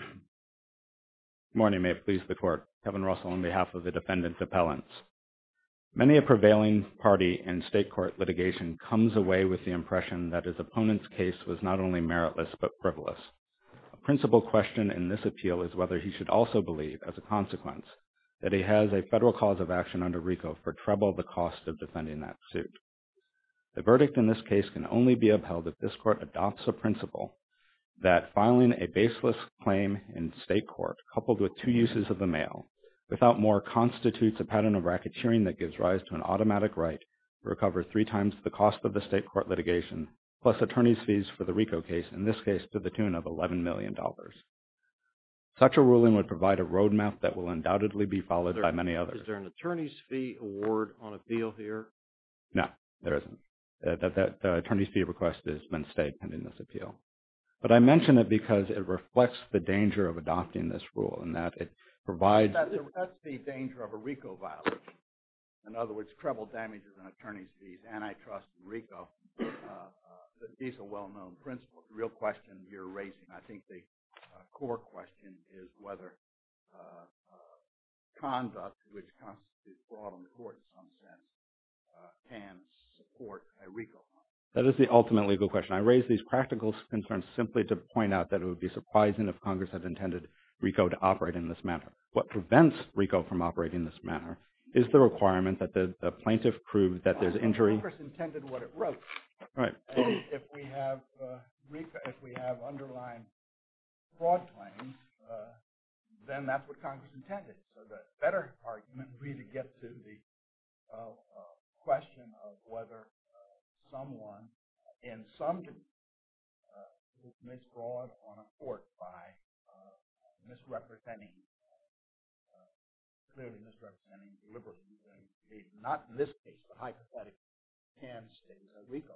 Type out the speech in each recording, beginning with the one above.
Good morning. May it please the Court. Kevin Russell on behalf of the Defendant's Appellants. Many a prevailing party in state court litigation comes away with the impression that his opponent's case was not only meritless but frivolous. A principal question in this appeal is whether he should also believe, as a consequence, that he has a federal cause of action under RICO for treble the cost of defending that suit. The verdict in this case can only be that filing a baseless claim in state court coupled with two uses of the mail without more constitutes a pattern of racketeering that gives rise to an automatic right to recover three times the cost of the state court litigation plus attorney's fees for the RICO case, in this case to the tune of $11 million. Such a ruling would provide a roadmap that will undoubtedly be followed by many others. Is there an attorney's fee award on appeal here? No, there isn't. That attorney's fee request has been stayed pending this appeal. But I mention it because it reflects the danger of adopting this rule in that it provides That's the danger of a RICO violation. In other words, treble damages and attorney's fees, antitrust, RICO. These are well-known principles. The real question you're raising, I think the core question is whether conduct which constitutes fraud on the court in some sense can support a RICO. That is the ultimate legal question. I raise these practical concerns simply to point out that it would be surprising if Congress had intended RICO to operate in this manner. What prevents RICO from operating in this manner is the requirement that the plaintiff prove that there's injury. Congress intended what it wrote. If we have underlined fraud claims, then that's what Congress intended. The better argument would be to get to the question of whether someone in some case commits fraud on a court by misrepresenting, clearly misrepresenting deliberately. Not in this case, but hypothetically, can state RICO.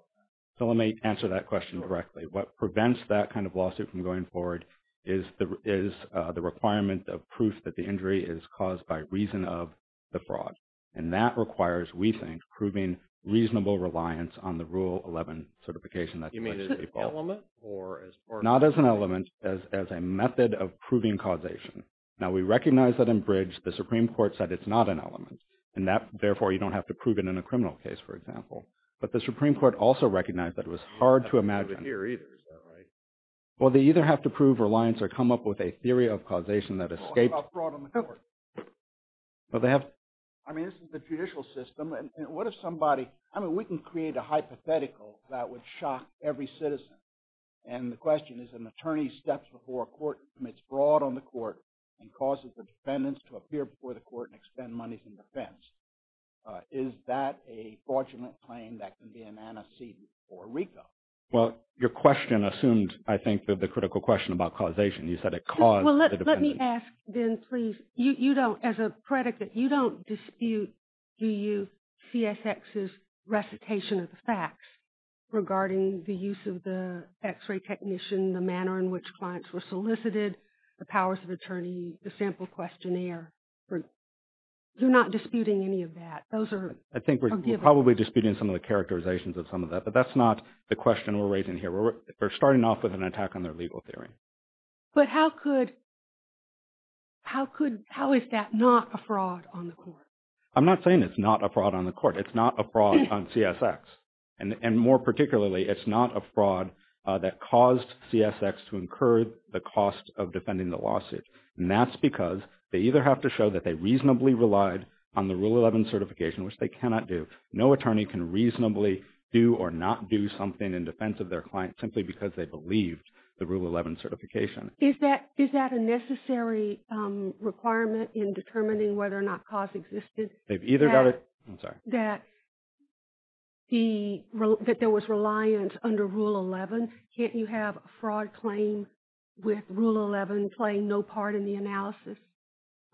Let me answer that question directly. What prevents that kind of lawsuit from going forward is the requirement of proof that the injury is caused by reason of the fraud. That requires, we think, proving reasonable reliance on the Rule 11 certification that's basically called. You mean as an element or as part of? Not as an element, as a method of proving causation. Now, we recognize that in Bridge, the Supreme Court said it's not an element, and therefore, you don't have to prove it in a criminal case, for example. But the Supreme Court also recognized that it was hard to imagine. I didn't hear either. Is that right? Well, they either have to prove reliance or come up with a theory of causation that escapes… What about fraud on the court? Well, they have… I mean, this is the judicial system. And what if somebody… I mean, we can create a hypothetical that would shock every citizen. And the question is, an attorney steps before a court, commits a fraud on the court, and causes the defendants to appear before the court and expend monies in defense. Is that a fraudulent claim that can be an antecedent for RICO? Well, your question assumed, I think, the critical question about causation. You said it caused the defendants… Well, let me ask, then, please. You don't, as a predicate, you don't dispute, do you, CSX's recitation of the facts regarding the use of the x-ray technician, the manner in which clients were solicited, the powers of attorney, the sample questionnaire. You're not disputing any of that. Those are… I think we're probably disputing some of the characterizations of some of that. But that's not the question we're raising here. We're starting off with an attack on their legal theory. But how could… how is that not a fraud on the court? I'm not saying it's not a fraud on the court. It's not a fraud on CSX. And more particularly, it's not a fraud that caused CSX to incur the cost of defending the lawsuit. And that's because they either have to show that they reasonably relied on the Rule 11 certification, which they cannot do. No attorney can reasonably do or not do something in defense of their client simply because they believed the Rule 11 certification. Is that a necessary requirement in determining whether or not cause existed? That there was reliance under Rule 11? Can't you have a fraud claim with Rule 11 playing no part in the analysis?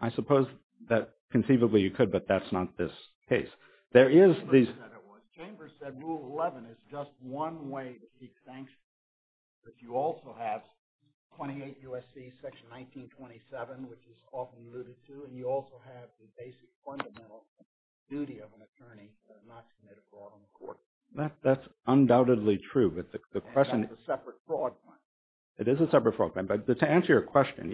I suppose that conceivably you could, but that's not this case. There is these… Chambers said Rule 11 is just one way to seek sanctions. But you also have 28 U.S.C. Section 1927, which is often alluded to, and you also have the basic fundamental duty of an attorney not to commit a fraud on the court. That's undoubtedly true, but the question… And that's a separate fraud claim. It is a separate fraud claim. But to answer your question,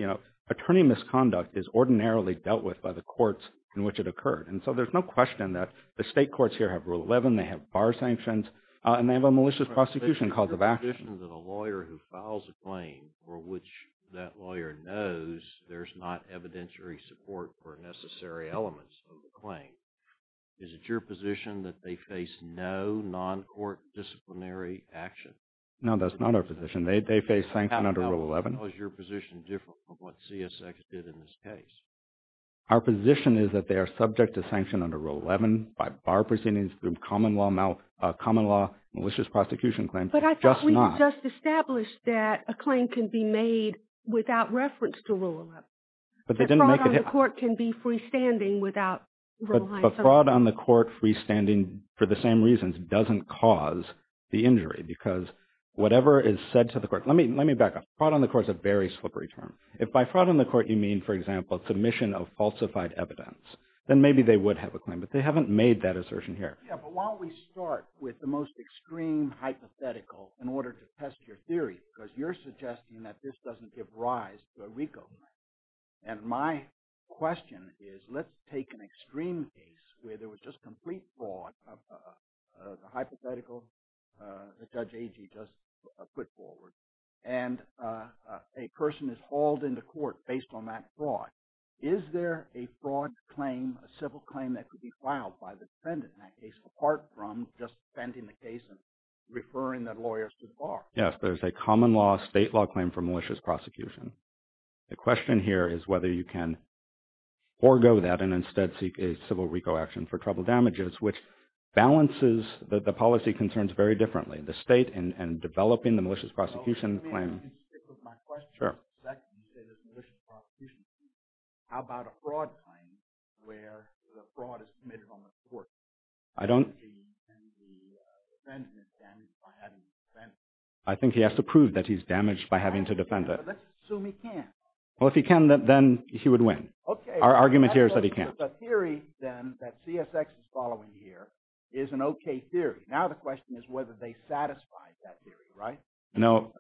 attorney misconduct is ordinarily dealt with by the courts in which it occurred. And so there's no question that the state courts here have Rule 11, they have bar sanctions, and they have a malicious prosecution cause of action. Is it your position that a lawyer who files a claim for which that lawyer knows there's not evidentiary support for necessary elements of the claim, is it your position that they face no non-court disciplinary action? No, that's not our position. They face sanction under Rule 11. How is your position different from what CSX did in this case? Our position is that they are subject to sanction under Rule 11 by bar proceedings through common law malicious prosecution claims, just not under Rule 11. They just established that a claim can be made without reference to Rule 11. But they didn't make it… A fraud on the court can be freestanding without… But a fraud on the court freestanding for the same reasons doesn't cause the injury because whatever is said to the court… Let me back up. Fraud on the court is a very slippery term. If by fraud on the court you mean, for example, submission of falsified evidence, then maybe they would have a claim, but they haven't made that assertion here. Yeah, but why don't we start with the most extreme hypothetical in order to test your theory because you're suggesting that this doesn't give rise to a RICO claim. And my question is, let's take an extreme case where there was just complete fraud, the hypothetical that Judge Agee just put forward, and a person is hauled into court based on that fraud. Is there a fraud claim, a civil claim, that could be filed by the defendant in that case apart from just defending the case and referring the lawyers to the bar? Yes, there's a common law state law claim for malicious prosecution. The question here is whether you can forego that and instead seek a civil RICO action for trouble damages, which balances the policy concerns very differently. The state and developing the malicious prosecution claim… How about a fraud claim where the fraud is committed on the court? I don't… And the defendant is damaged by having to defend it. I think he has to prove that he's damaged by having to defend it. Let's assume he can. Well, if he can, then he would win. Our argument here is that he can't. Okay, so the theory then that CSX is following here is an okay theory. Now the question is whether they satisfy that theory, right? No.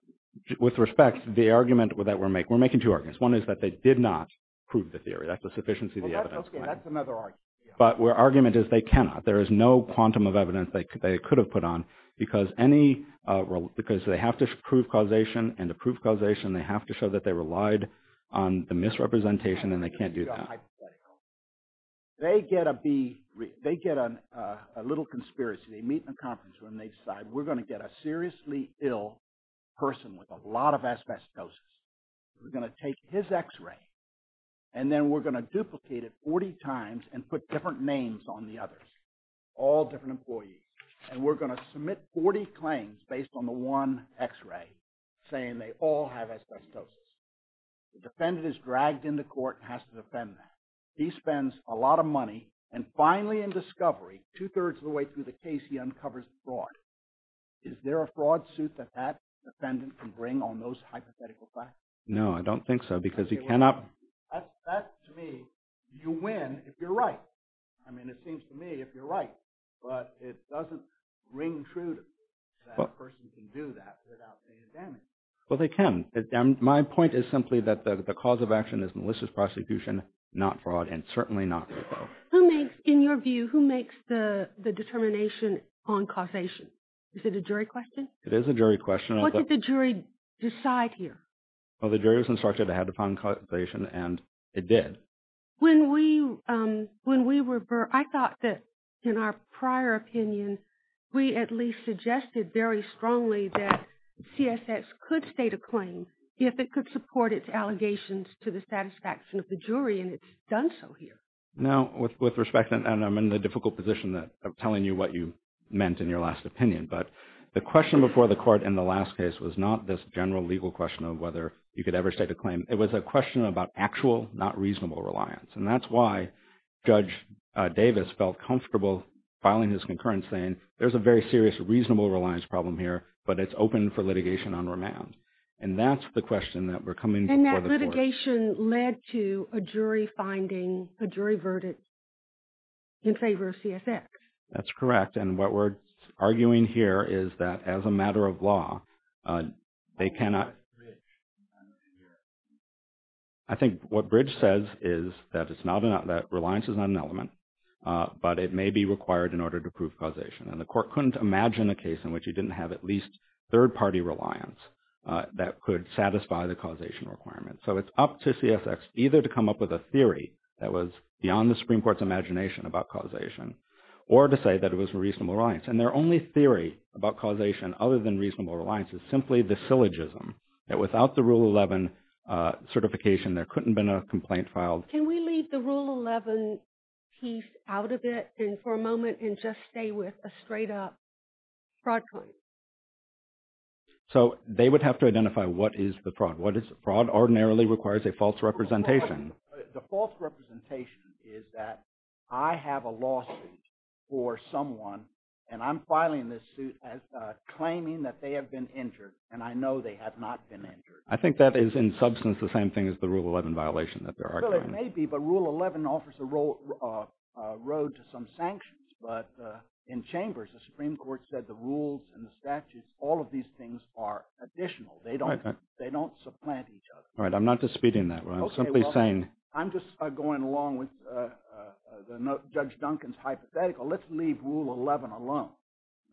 With respect, the argument that we're making, we're making two arguments. One is that they did not prove the theory. That's a sufficiency of the evidence. Okay, that's another argument. But our argument is they cannot. There is no quantum of evidence they could have put on because they have to prove causation, and to prove causation, they have to show that they relied on the misrepresentation, and they can't do that. They get a little conspiracy. They meet in a conference room, and they decide we're going to get a seriously ill person with a lot of asbestosis. We're going to take his X-ray, and then we're going to duplicate it 40 times and put different names on the others, all different employees, and we're going to submit 40 claims based on the one X-ray saying they all have asbestosis. The defendant is dragged into court and has to defend that. He spends a lot of money, and finally in discovery, two-thirds of the way through the case, he uncovers the fraud. Is there a fraud suit that that defendant can bring on those hypothetical facts? No, I don't think so, because he cannot. That, to me, you win if you're right. I mean, it seems to me if you're right, but it doesn't ring true to me that a person can do that without being damaged. Well, they can. My point is simply that the cause of action is malicious prosecution, not fraud, and certainly not repro. Who makes, in your view, who makes the determination on causation? Is it a jury question? It is a jury question. What did the jury decide here? Well, the jury was instructed ahead upon causation, and it did. When we were, I thought that in our prior opinion, we at least suggested very strongly that CSS could state a claim if it could support its allegations to the satisfaction of the jury, and it's done so here. Now, with respect, and I'm in the difficult position of telling you what you meant in your last opinion, but the question before the court in the last case was not this general legal question of whether you could ever state a claim. It was a question about actual, not reasonable reliance, and that's why Judge Davis felt comfortable filing his concurrence saying there's a very serious reasonable reliance problem here, but it's open for litigation on remand, and that's the question that we're coming for the court. And that litigation led to a jury finding, a jury verdict in favor of CSS. That's correct, and what we're arguing here is that as a matter of law, they cannot I think what Bridge says is that reliance is not an element, but it may be required in order to prove causation, and the court couldn't imagine a case in which you didn't have at least third-party reliance that could satisfy the causation requirement. So it's up to CSX either to come up with a theory that was beyond the Supreme Court's or to say that it was a reasonable reliance, and their only theory about causation other than reasonable reliance is simply the syllogism that without the Rule 11 certification, there couldn't have been a complaint filed. Can we leave the Rule 11 piece out of it for a moment and just stay with a straight-up fraud claim? So they would have to identify what is the fraud. What is the fraud? Ordinarily requires a false representation. The false representation is that I have a lawsuit for someone, and I'm filing this suit as claiming that they have been injured, and I know they have not been injured. I think that is in substance the same thing as the Rule 11 violation that they're arguing. Well, it may be, but Rule 11 offers a road to some sanctions, but in chambers, the Supreme Court said the rules and the statutes, all of these things are additional. They don't supplant each other. All right, I'm not disputing that. I'm simply saying… Okay, well, I'm just going along with Judge Duncan's hypothetical. Let's leave Rule 11 alone.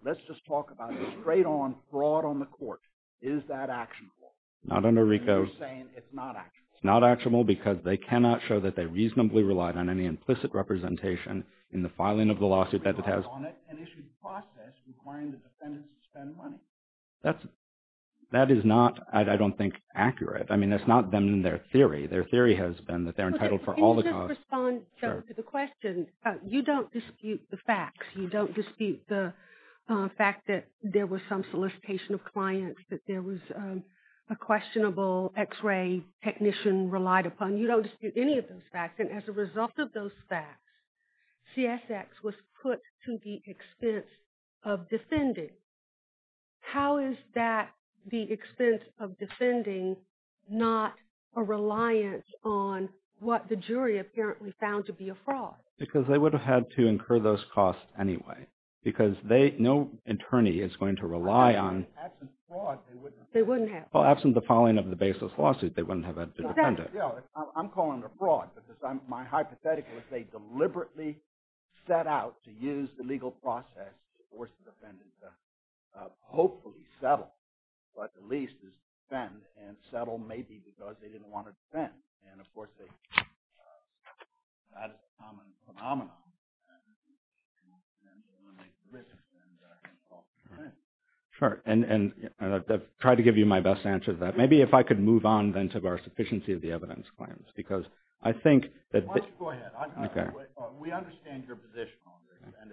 Let's just talk about a straight-on fraud on the court. Is that actionable? Not under RICO. And you're saying it's not actionable. It's not actionable because they cannot show that they reasonably relied on any implicit representation in the filing of the lawsuit that it has. And issued process requiring the defendant to spend money. That is not, I don't think, accurate. I mean, that's not been their theory. Their theory has been that they're entitled for all the costs. Can you just respond to the question? You don't dispute the facts. You don't dispute the fact that there was some solicitation of clients, that there was a questionable x-ray technician relied upon. You don't dispute any of those facts. And as a result of those facts, CSX was put to the expense of defending. How is that, the expense of defending, not a reliance on what the jury apparently found to be a fraud? Because they would have had to incur those costs anyway. Because no attorney is going to rely on... Absent fraud, they wouldn't have. They wouldn't have. Well, absent the filing of the baseless lawsuit, they wouldn't have had to defend it. I'm calling it a fraud because my hypothetical is they deliberately set out to use the legal process to force the defendant to hopefully settle, but at least defend and settle maybe because they didn't want to defend. And, of course, that is a common phenomenon. Defendant can then eliminate the risk and can also defend. Sure. And I've tried to give you my best answer to that. Maybe if I could move on, then, to our sufficiency of the evidence claims. Because I think that... Why don't you go ahead? We understand your position on this. And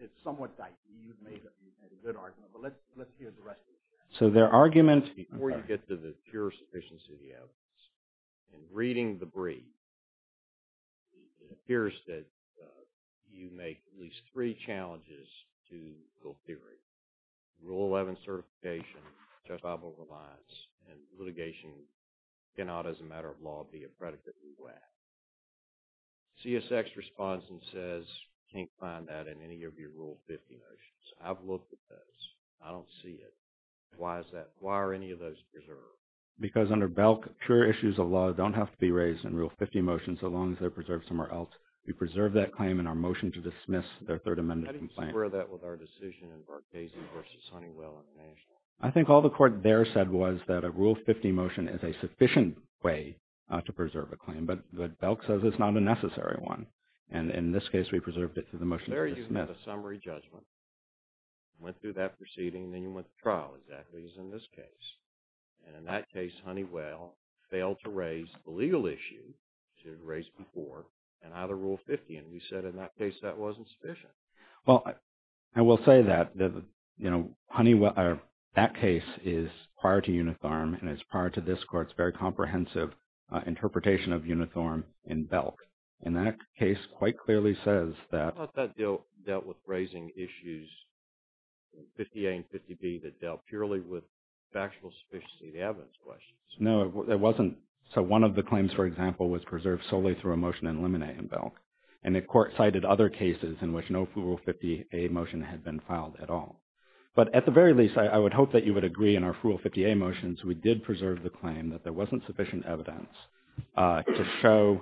it's somewhat dicey. You've made a good argument. But let's hear the rest of it. So their argument... Before you get to the pure sufficiency of the evidence, in reading the brief, it appears that you make at least three challenges to legal theory. Rule 11 certification, justifiable reliance, and litigation cannot, as a matter of law, be a predicate in WACC. CSX responds and says, can't find that in any of your Rule 50 motions. I've looked at those. I don't see it. Why is that? Why are any of those preserved? Because under BELC, pure issues of law don't have to be raised in Rule 50 motions so long as they're preserved somewhere else. We preserve that claim in our motion to dismiss their Third Amendment complaint. How do you square that with our decision in Varghese v. Huntingwell International? I think all the court there said was that a Rule 50 motion is a sufficient way to preserve a claim. But BELC says it's not a necessary one. And in this case, we preserved it through the motion to dismiss. There you had a summary judgment. Went through that proceeding. Then you went to trial, exactly as in this case. And in that case, Huntingwell failed to raise the legal issue to raise before and out of Rule 50. And you said in that case that wasn't sufficient. Well, I will say that that case is prior to Uniform and is prior to this court's very comprehensive interpretation of Uniform in BELC. And that case quite clearly says that… I thought that dealt with raising issues in 50A and 50B that dealt purely with factual sufficiency of the evidence questions. No, it wasn't. So one of the claims, for example, was preserved solely through a motion to eliminate in BELC. And the court cited other cases in which no Rule 50A motion had been filed at all. But at the very least, I would hope that you would agree in our Rule 50A motions, we did preserve the claim that there wasn't sufficient evidence to show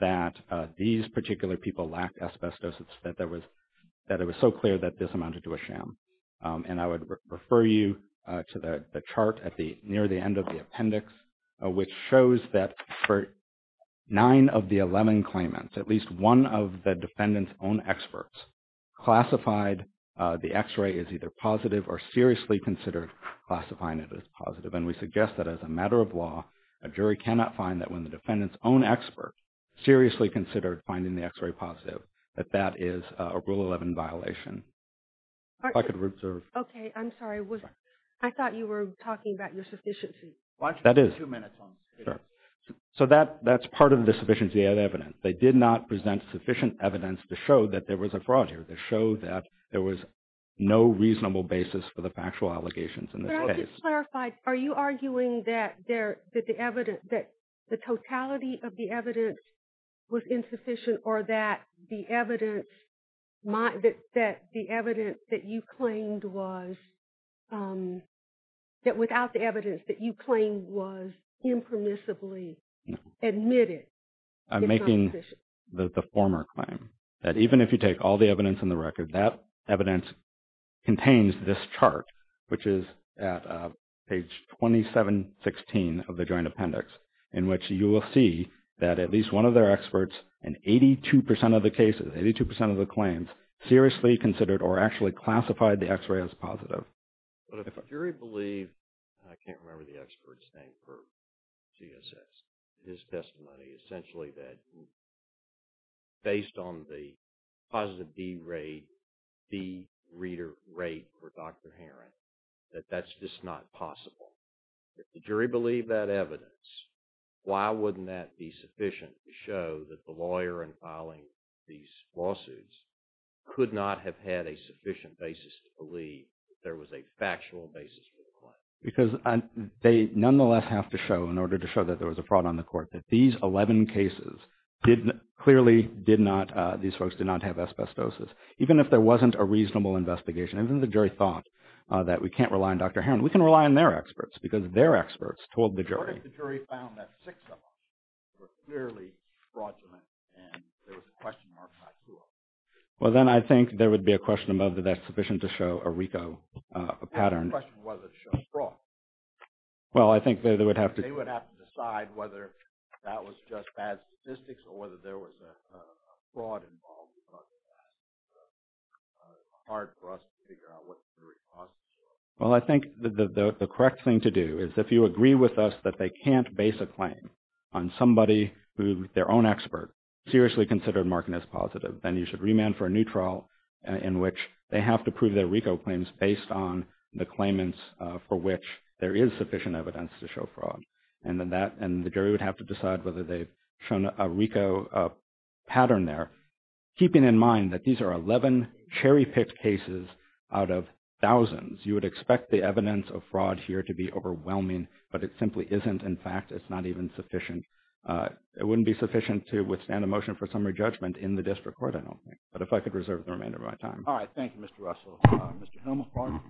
that these particular people lacked asbestos, that it was so clear that this amounted to a sham. And I would refer you to the chart near the end of the appendix, which shows that for nine of the 11 claimants, at least one of the defendant's own experts classified the x-ray as either positive or seriously considered classifying it as positive. And we suggest that as a matter of law, a jury cannot find that when the defendant's own expert seriously considered finding the x-ray positive, that that is a Rule 11 violation. If I could reserve… Okay. I'm sorry. I thought you were talking about your sufficiency. That is. Watch for two minutes. Sure. So that's part of the sufficiency of evidence. They did not present sufficient evidence to show that there was a fraud here, to show that there was no reasonable basis for the factual allegations in this case. But I would just clarify, are you arguing that the evidence, that the totality of the evidence was insufficient or that the evidence that you claimed was, that without the evidence that you claimed was impermissibly admitted is not sufficient? No. I'm making the former claim, that even if you take all the evidence in the record, that evidence contains this chart, which is at page 2716 of the Joint Appendix, in which you will see that at least one of their experts in 82% of the cases, 82% of the claims, seriously considered or actually classified the x-ray as positive. But if a jury believed, I can't remember the expert's name for GSX, his testimony essentially that based on the positive D rate, D reader rate for Dr. Heron, that that's just not possible. If the jury believed that evidence, why wouldn't that be sufficient to show that the lawyer in filing these lawsuits could not have had a sufficient basis to believe that there was a factual basis for the claim? Because they nonetheless have to show, in order to show that there was a fraud on the court, that these 11 cases clearly did not, these folks did not have asbestosis. Even if there wasn't a reasonable investigation, even if the jury thought that we can't rely on Dr. Heron, we can rely on their experts because their experts told the jury. What if the jury found that six of them were clearly fraudulent and there was a question marked by two of them? Well, then I think there would be a question of whether that's sufficient to show a RICO pattern. The question was to show fraud. Well, I think they would have to- They would have to decide whether that was just bad statistics or whether there was a fraud involved because of that. It's hard for us to figure out what the jury's lawsuits were. Well, I think the correct thing to do is if you agree with us that they can't base a claim on somebody who their own expert seriously considered marking as positive, then you should remand for a new trial in which they have to prove their RICO claims based on the claimants for which there is sufficient evidence to show fraud. And the jury would have to decide whether they've shown a RICO pattern there, keeping in mind that these are 11 cherry-picked cases out of thousands. You would expect the evidence of fraud here to be overwhelming, but it simply isn't. In fact, it's not even sufficient. It wouldn't be sufficient to withstand a motion for summary judgment in the district court, I don't think. But if I could reserve the remainder of my time. All right. Thank you, Mr. Russell. Mr. Helm, a question?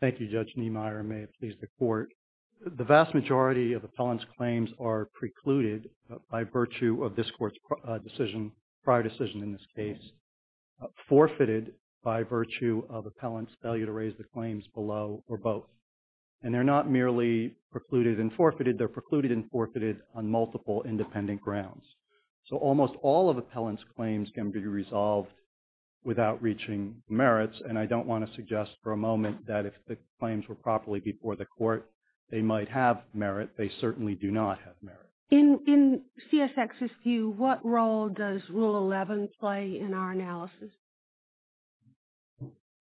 Thank you, Judge Niemeyer. May it please the Court. The vast majority of appellant's claims are precluded by virtue of this Court's prior decision in this case, forfeited by virtue of appellant's failure to raise the claims below or both. And they're not merely precluded and forfeited. They're precluded and forfeited on multiple independent grounds. So almost all of appellant's claims can be resolved without reaching merits. And I don't want to suggest for a moment that if the claims were properly before the Court they might have merit. They certainly do not have merit. In CSX's view, what role does Rule 11 play in our analysis?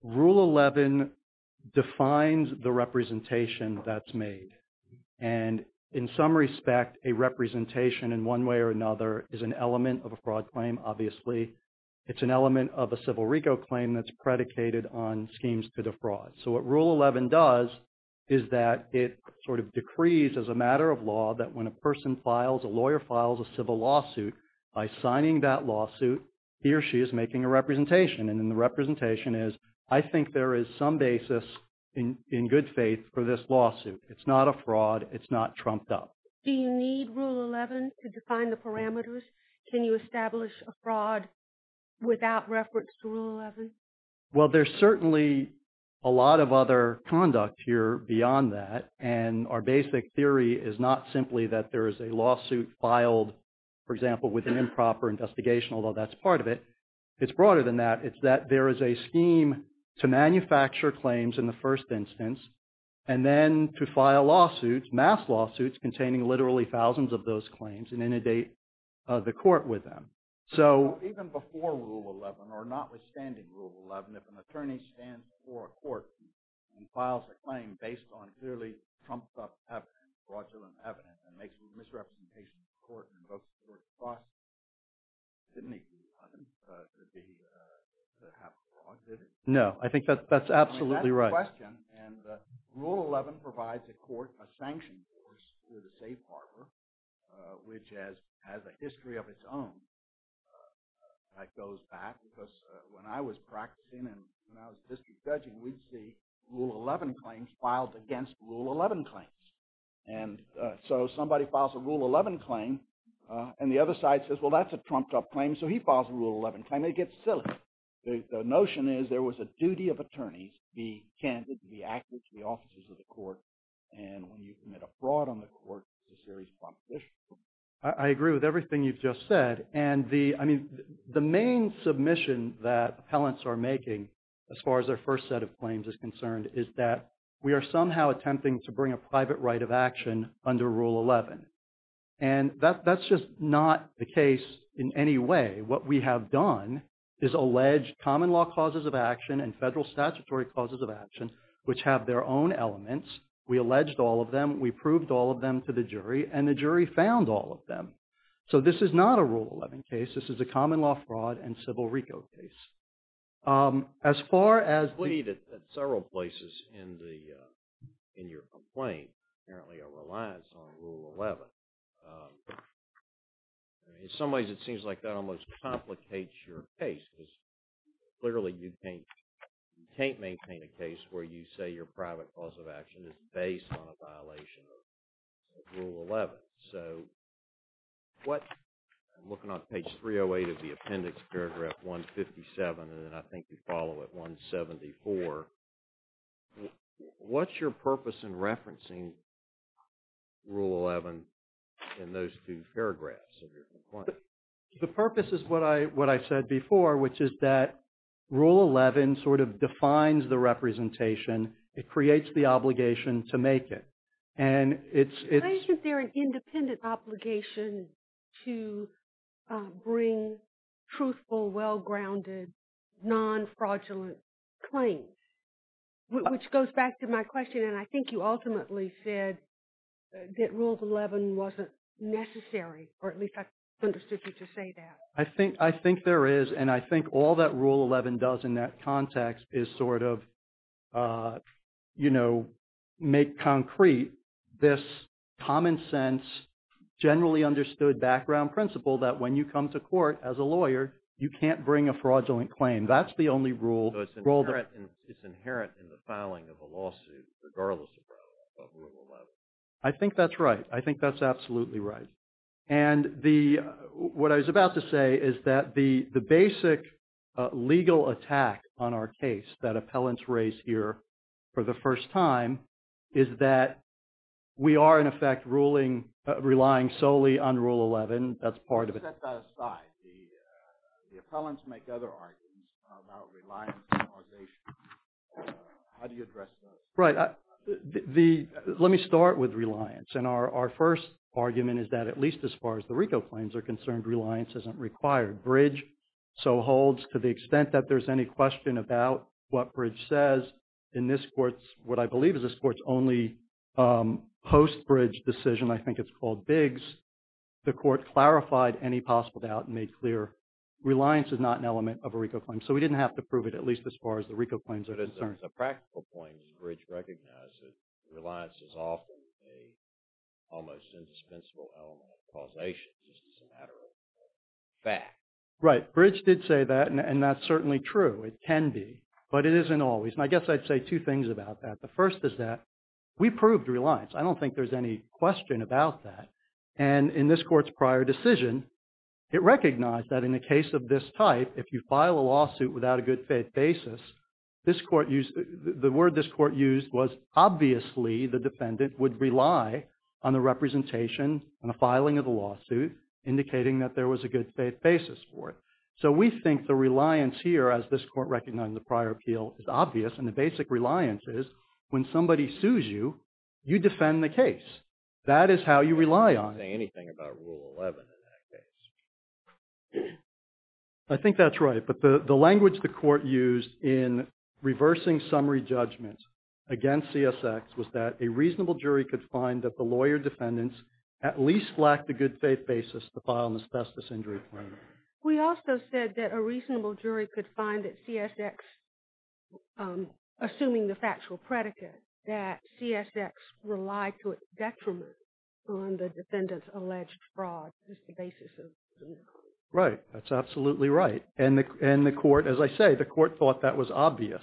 Rule 11 defines the representation that's made. And in some respect, a representation in one way or another is an element of a fraud claim, obviously. It's an element of a civil RICO claim that's predicated on schemes to defraud. So what Rule 11 does is that it sort of decrees as a matter of law that when a person files, a lawyer files a civil lawsuit, by signing that lawsuit, he or she is making a representation. And then the representation is, I think there is some basis in good faith for this lawsuit. It's not a fraud. It's not trumped up. Do you need Rule 11 to define the parameters? Can you establish a fraud without reference to Rule 11? Well, there's certainly a lot of other conduct here beyond that. And our basic theory is not simply that there is a lawsuit filed, for example, with an improper investigation, although that's part of it. It's broader than that. It's that there is a scheme to manufacture claims in the first instance and then to file lawsuits, mass lawsuits, containing literally thousands of those claims and inundate the court with them. So even before Rule 11, or notwithstanding Rule 11, if an attorney stands before a court and files a claim based on clearly trumped up evidence, fraudulent evidence, and makes a misrepresentation of the court and invokes the court's process, it didn't need to be done to have fraud, did it? No, I think that's absolutely right. That's a good question. And Rule 11 provides the court a sanction force with a safe harbor, which has a history of its own that goes back. Because when I was practicing and when I was district judging, we'd see Rule 11 claims filed against Rule 11 claims. And so somebody files a Rule 11 claim, and the other side says, well, that's a trumped up claim, so he files a Rule 11 claim. It gets silly. The notion is there was a duty of attorneys to be candid, to be active to the offices of the court. And when you commit a fraud on the court, it's a serious competition. I agree with everything you've just said. And the main submission that appellants are making, as far as their first set of claims is concerned, is that we are somehow attempting to bring a private right of action under Rule 11. And that's just not the case in any way. What we have done is allege common law causes of action and federal statutory causes of action, which have their own elements. We alleged all of them. We proved all of them to the jury, and the jury found all of them. So this is not a Rule 11 case. This is a common law fraud and civil reco case. As far as the- I believe that several places in your complaint apparently are reliant on Rule 11. In some ways it seems like that almost complicates your case. Because clearly you can't maintain a case where you say your private cause of action is based on a violation of Rule 11. So what- I'm looking on page 308 of the appendix, paragraph 157, and then I think you follow at 174. What's your purpose in referencing Rule 11 in those two paragraphs of your complaint? The purpose is what I said before, which is that Rule 11 sort of defines the representation. It creates the obligation to make it. And it's- I think that they're an independent obligation to bring truthful, well-grounded, non-fraudulent claims. Which goes back to my question, and I think you ultimately said that Rule 11 wasn't necessary, or at least I understood you to say that. I think there is. And I think all that Rule 11 does in that context is sort of make concrete this common sense, generally understood background principle that when you come to court as a lawyer, you can't bring a fraudulent claim. That's the only rule. It's inherent in the filing of a lawsuit, regardless of Rule 11. I think that's right. I think that's absolutely right. And what I was about to say is that the basic legal attack on our case that appellants raise here for the first time is that we are, in effect, relying solely on Rule 11. That's part of it. Set that aside. The appellants make other arguments about reliance on organization. How do you address those? Right. Let me start with reliance. And our first argument is that at least as far as the RICO claims are concerned, reliance isn't required. Bridge so holds to the extent that there's any question about what Bridge says. In this court's, what I believe is this court's only post-Bridge decision, I think it's called Biggs, the court clarified any possible doubt and made clear reliance is not an element of a RICO claim. So we didn't have to prove it at least as far as the RICO claims are concerned. As a practical point, does Bridge recognize that reliance is often an almost indispensable element of causation, just as a matter of fact? Right. Bridge did say that, and that's certainly true. It can be. But it isn't always. And I guess I'd say two things about that. The first is that we proved reliance. I don't think there's any question about that. And in this court's prior decision, it recognized that in a case of this type, if you file a lawsuit without a good faith basis, this court used, the word this court used was obviously the defendant would rely on the representation and the filing of the lawsuit indicating that there was a good faith basis for it. So we think the reliance here, as this court recognized in the prior appeal, is obvious and the basic reliance is when somebody sues you, you defend the case. That is how you rely on it. Anything about Rule 11 in that case? I think that's right. But the language the court used in reversing summary judgments against CSX was that a reasonable jury could find that the lawyer defendants at least lacked a good faith basis to file an asbestos injury claim. We also said that a reasonable jury could find that CSX, assuming the factual predicate, that CSX relied to its detriment on the defendant's alleged fraud as the basis of the misdemeanor. Right, that's absolutely right. And the court, as I say, the court thought that was obvious.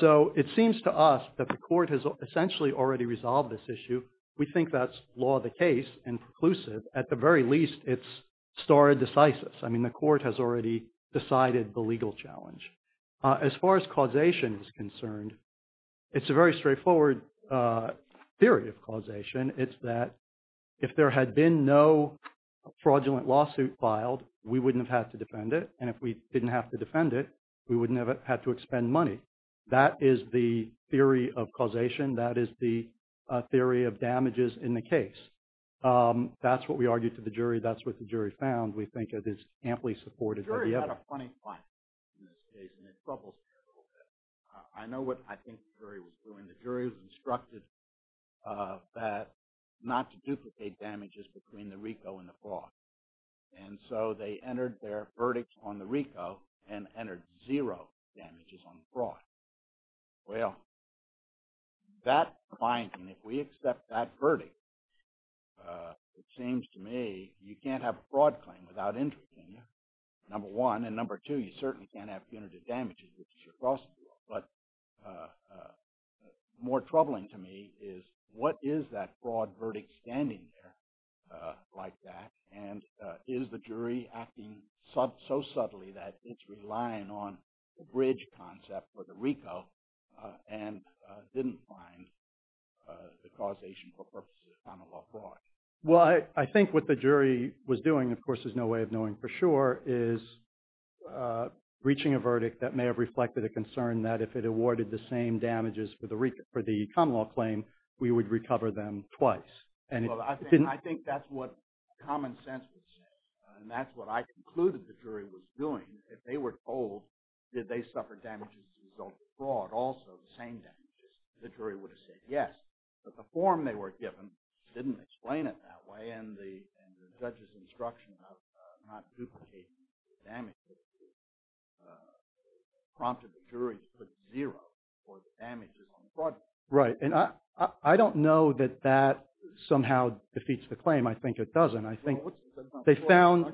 So it seems to us that the court has essentially already resolved this issue. We think that's law of the case and preclusive. At the very least, it's stare decisis. I mean, the court has already decided the legal challenge. As far as causation is concerned, it's a very straightforward theory of causation. It's that if there had been no fraudulent lawsuit filed, we wouldn't have had to defend it. And if we didn't have to defend it, we wouldn't have had to expend money. That is the theory of causation. That is the theory of damages in the case. That's what we argued to the jury. That's what the jury found. We think it is amply supported. The jury had a funny point in this case and it troubles me a little bit. I know what I think the jury was doing. The jury was instructed not to duplicate damages between the RICO and the fraud. And so they entered their verdict on the RICO and entered zero damages on fraud. Well, that finding, if we accept that verdict, it seems to me you can't have a fraud claim without interest in you. Number one. And number two, you certainly can't have punitive damages which is your cross-example. But more troubling to me is what is that fraud verdict standing there like that? And is the jury acting so subtly that it's relying on the bridge concept for the RICO and didn't find the causation for purposes of common law fraud? Well, I think what the jury was doing, of course there's no way of knowing for sure, is reaching a verdict that may have reflected a concern that if it awarded the same damages for the common law claim we would recover them twice. Well, I think that's what common sense would say. And that's what I concluded the jury was doing. If they were told did they suffer damages as a result of fraud also the same damages, the jury would have said yes. But the form they were given didn't explain it that way and the judge's instruction of not duplicating the damages prompted the jury to put zero for the damages on fraud. Right, and I don't know that that somehow defeats the claim. I think it doesn't. I think they found...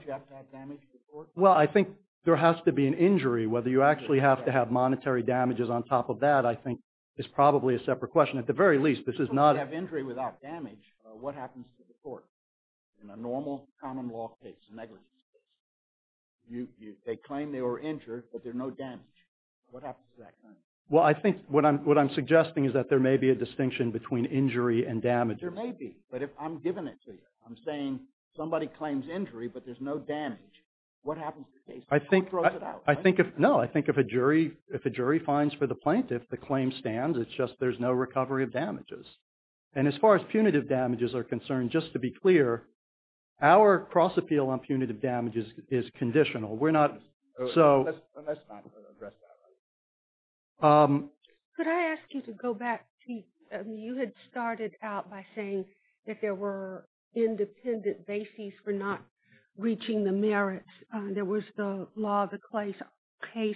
Well, I think there has to be an injury whether you actually have to have monetary damages on top of that I think is probably a separate question. At the very least, this is not... If you have injury without damage what happens to the court in a normal common law case, negligence case? They claim they were injured but there's no damage. What happens to that claim? Well, I think what I'm suggesting is that there may be a distinction between injury and damages. There may be, but I'm giving it to you. I'm saying somebody claims injury but there's no damage. What happens to the case? I think... Who throws it out? No, I think if a jury finds for the plaintiff the claim stands it's just there's no recovery of damages. And as far as punitive damages are concerned just to be clear our cross-appeal on punitive damages is conditional. We're not... Let's not address that right now. Could I ask you to go back to... You had started out by saying that there were independent bases for not reaching the merits. There was the law of the case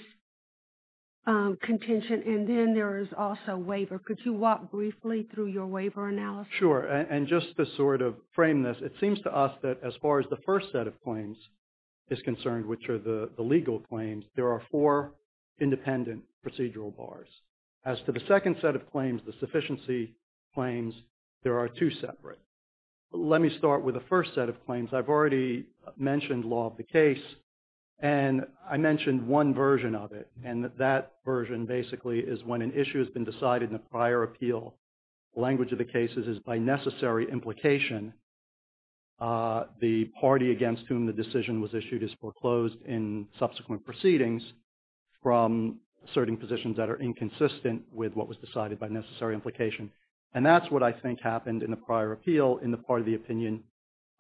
contention and then there is also waiver. Could you walk briefly through your waiver analysis? Sure. And just to sort of frame this it seems to us that as far as the first set of claims is concerned which are the legal claims there are four independent procedural bars. As to the second set of claims the sufficiency claims there are two separate. Let me start with the first set of claims. I've already mentioned law of the case and I mentioned one version of it and that version basically is when an issue has been decided in a prior appeal the language of the case is by necessary implication the party against whom the decision was issued is foreclosed in subsequent proceedings from certain positions that are inconsistent with what was decided by necessary implication and that's what I think happened in the prior appeal in the part of the opinion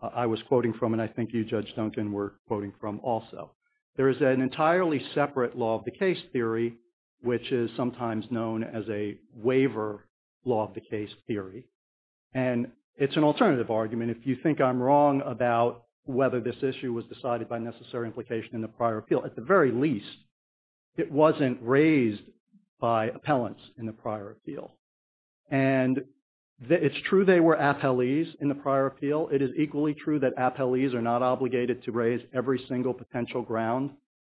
I was quoting from and I think you Judge Duncan were quoting from also. There is an entirely separate law of the case theory which is sometimes known as a waiver law of the case theory and it's an alternative argument if you think I'm wrong about whether this issue was decided by necessary implication in the prior appeal at the very least it wasn't raised by appellants in the prior appeal and it's true they were appellees in the prior appeal it is equally true that appellees are not obligated to raise every single potential ground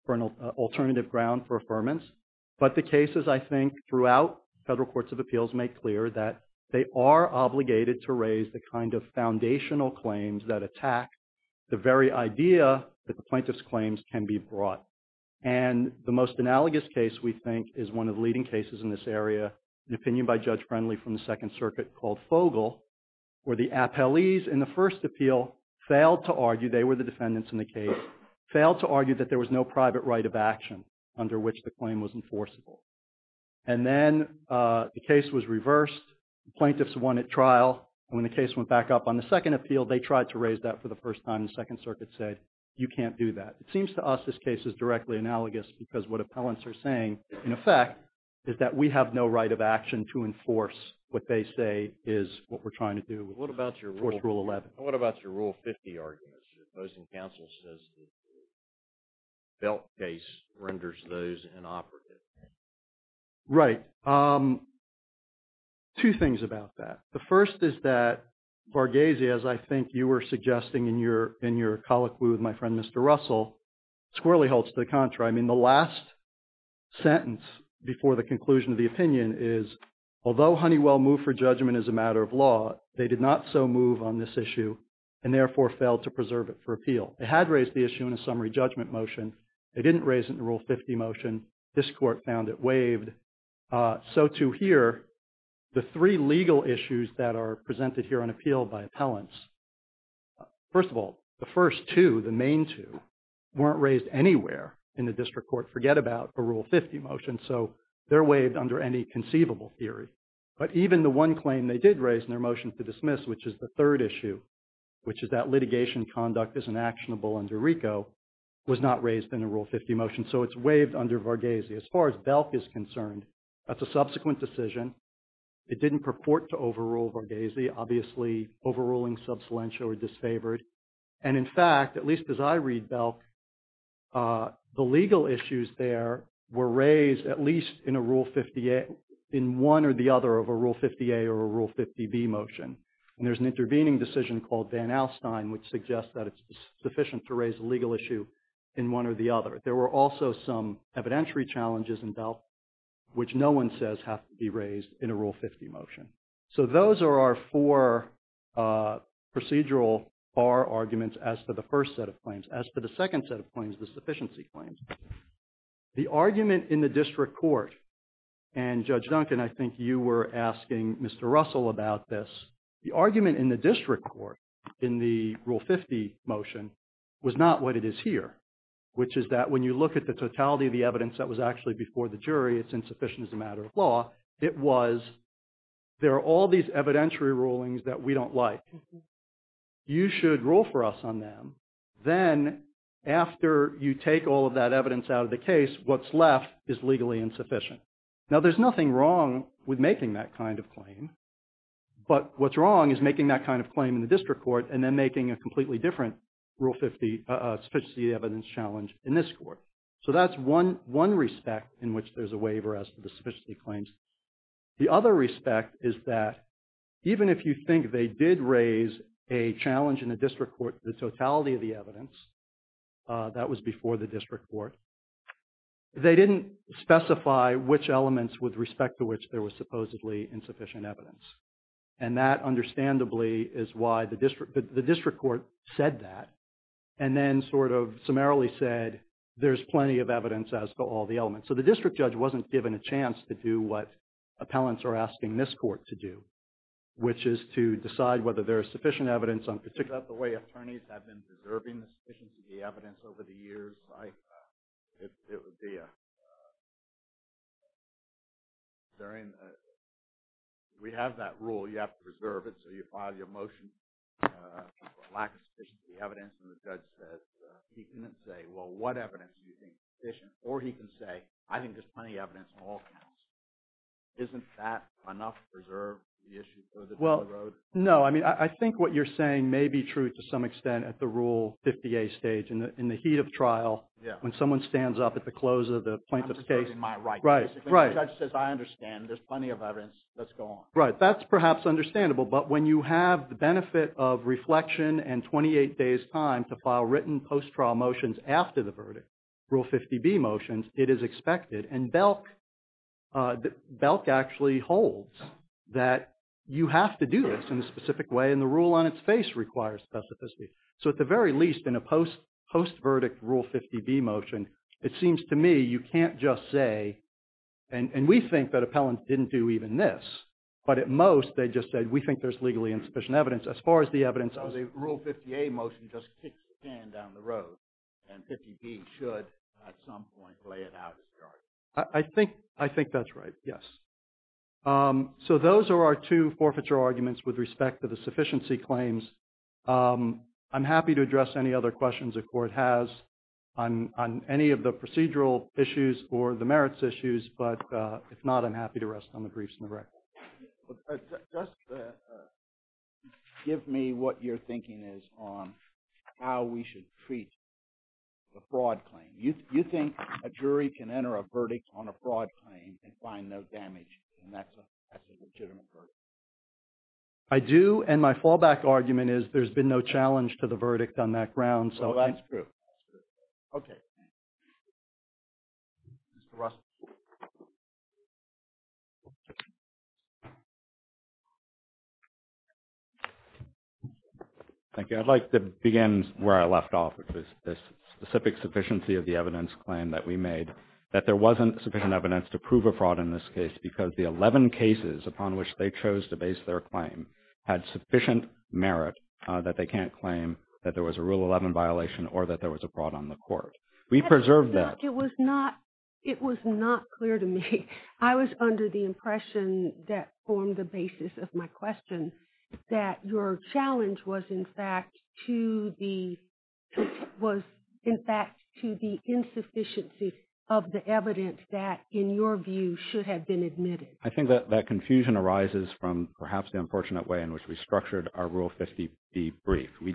for an alternative ground for affirmance but the cases I think throughout federal courts of appeals make clear that they are obligated to raise the kind of foundational claims that attack the very idea that the plaintiff's claims can be brought and the most analogous case we think is one of the leading cases in this area an opinion by Judge Friendly from the Second Circuit called Fogle where the appellees in the first appeal failed to argue they were the defendants in the case failed to argue that there was no private right of action under which the claim was enforceable and then the case was reversed the plaintiffs won at trial when the case went back up on the second appeal they tried to raise that for the first time and the Second Circuit said you can't do that it seems to us this case is directly analogous because what appellants are saying in effect is that we have no right of action to enforce what they say is what we're trying to do what about your rule 50 argument your opposing counsel says the belt case renders those inoperative right two things about that the first is that Varghese as I think you were suggesting in your colloquy with my friend Mr. Russell squirrelly holds to the contrary I mean the last sentence before the conclusion of the opinion is although Honeywell moved for judgment as a matter of law they did not so move on this issue and therefore failed to preserve it for appeal they had raised the issue in a summary judgment motion they didn't raise it in rule 50 motion this court found it waived so to hear the three legal issues that are presented here on appeal by appellants first of all the first two the main two weren't raised anywhere in the district court forget about a rule 50 motion so they're waived under any conceivable theory but even the one claim they did raise in their motion to dismiss which is the third issue which is that litigation conduct is inactionable under RICO was not raised in a rule 50 motion so it's waived under Varghese as far as obviously overruling subsalentia or disfavored and in fact at least as I read Belk the legal issues there were raised at least in a rule 50 in one or the other of a rule 50 A or a rule 50 B motion and there's an intervening decision called Van Alstyne which suggests that it's sufficient to raise a legal issue in one or the other there were also some evidentiary challenges in Belk which no one says have to be raised in a rule 50 motion so those are our four procedural bar arguments as to the first set of claims as to the second set of claims the sufficiency claims the argument in the district court and Judge Duncan I think you were asking Mr. Russell about this the argument in the district court in the rule 50 motion was not what it is here which is that when you look at the totality of the evidence that was actually before the jury it's insufficient as a matter of law it was there are all these evidentiary rulings that we don't like you should rule for us on them then after you take all of that evidence out of the case what's left is legally insufficient now there's nothing wrong with making that kind of claim but what's wrong is making that kind of claim in the district court and then making a completely different rule 50 sufficiency evidence challenge in this court so that's one respect in which there's a waiver as to the sufficiency claims the other respect is that even if you think they did raise a challenge in the district court the totality of the evidence that was before the district court they didn't specify which elements with respect to which there was supposedly insufficient evidence and that understandably is why the district court said that and then sort of summarily said there's plenty of evidence as to all the elements so the district judge wasn't given a chance to do what appellants are asking this court to do which is to decide whether there is sufficient evidence on particular is that the way attorneys have been preserving sufficient evidence over the years it would be during we have that rule you have to preserve it so you file your motion lack of sufficient evidence and the judge said he couldn't say what evidence or he found wasn't true to some extent at the rule and 힘 heat of trial when someone stands at the I'm right I understand there's plenty of fall it's received for battery flexion and 28 days prior written post-trial motions after the verdict rule 50b motions it is expected and Belk actually holds that you have to do this in a specific way and the rule on its face requires specificity so at the very least in a post-verdict rule 50b motion it seems to me you can't just say and we think that appellant didn't do even this but at most they just said we think there's legally insufficient evidence as far as the evidence of the rule 50a motion just doesn't have sufficient as far as the evidence of the rule 50b motion so I think that's right yes so those are our two arguments with respect to the sufficiency claims I'm going to ask give me what your thinking is on how we should treat the fraud claim you think a jury can enter a verdict on a fraud claim and find no damage and that's a legitimate verdict I do and my fallback argument is there's been no challenge to the verdict on that ground so that's true okay Mr. Russell Thank you I'd like to begin where I left off with this specific question about the sufficiency of the evidence claim that we made that there wasn't sufficient evidence a fraud in this case because the 11 cases upon which they chose to base their claim had sufficient merit that they can't claim that there was a rule 11 violation or that there was a fraud on the court we preserved that it was not it was not clear to me I was under the impression that formed the basis of my question that your challenge was in fact to the was in fact to the insufficiency of the evidence that in your view should have been admitted I think that confusion arises from perhaps the unfortunate way in which we structured our rule 50B brief and we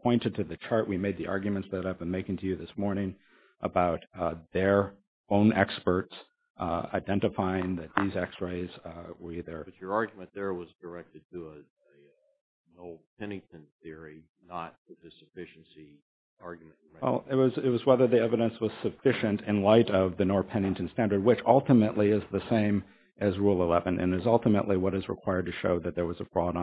presented to the chart we made the arguments that I've been making to you this morning about their own experts identifying that these x-rays were either but your argument there was directed to an old Pennington theory not the old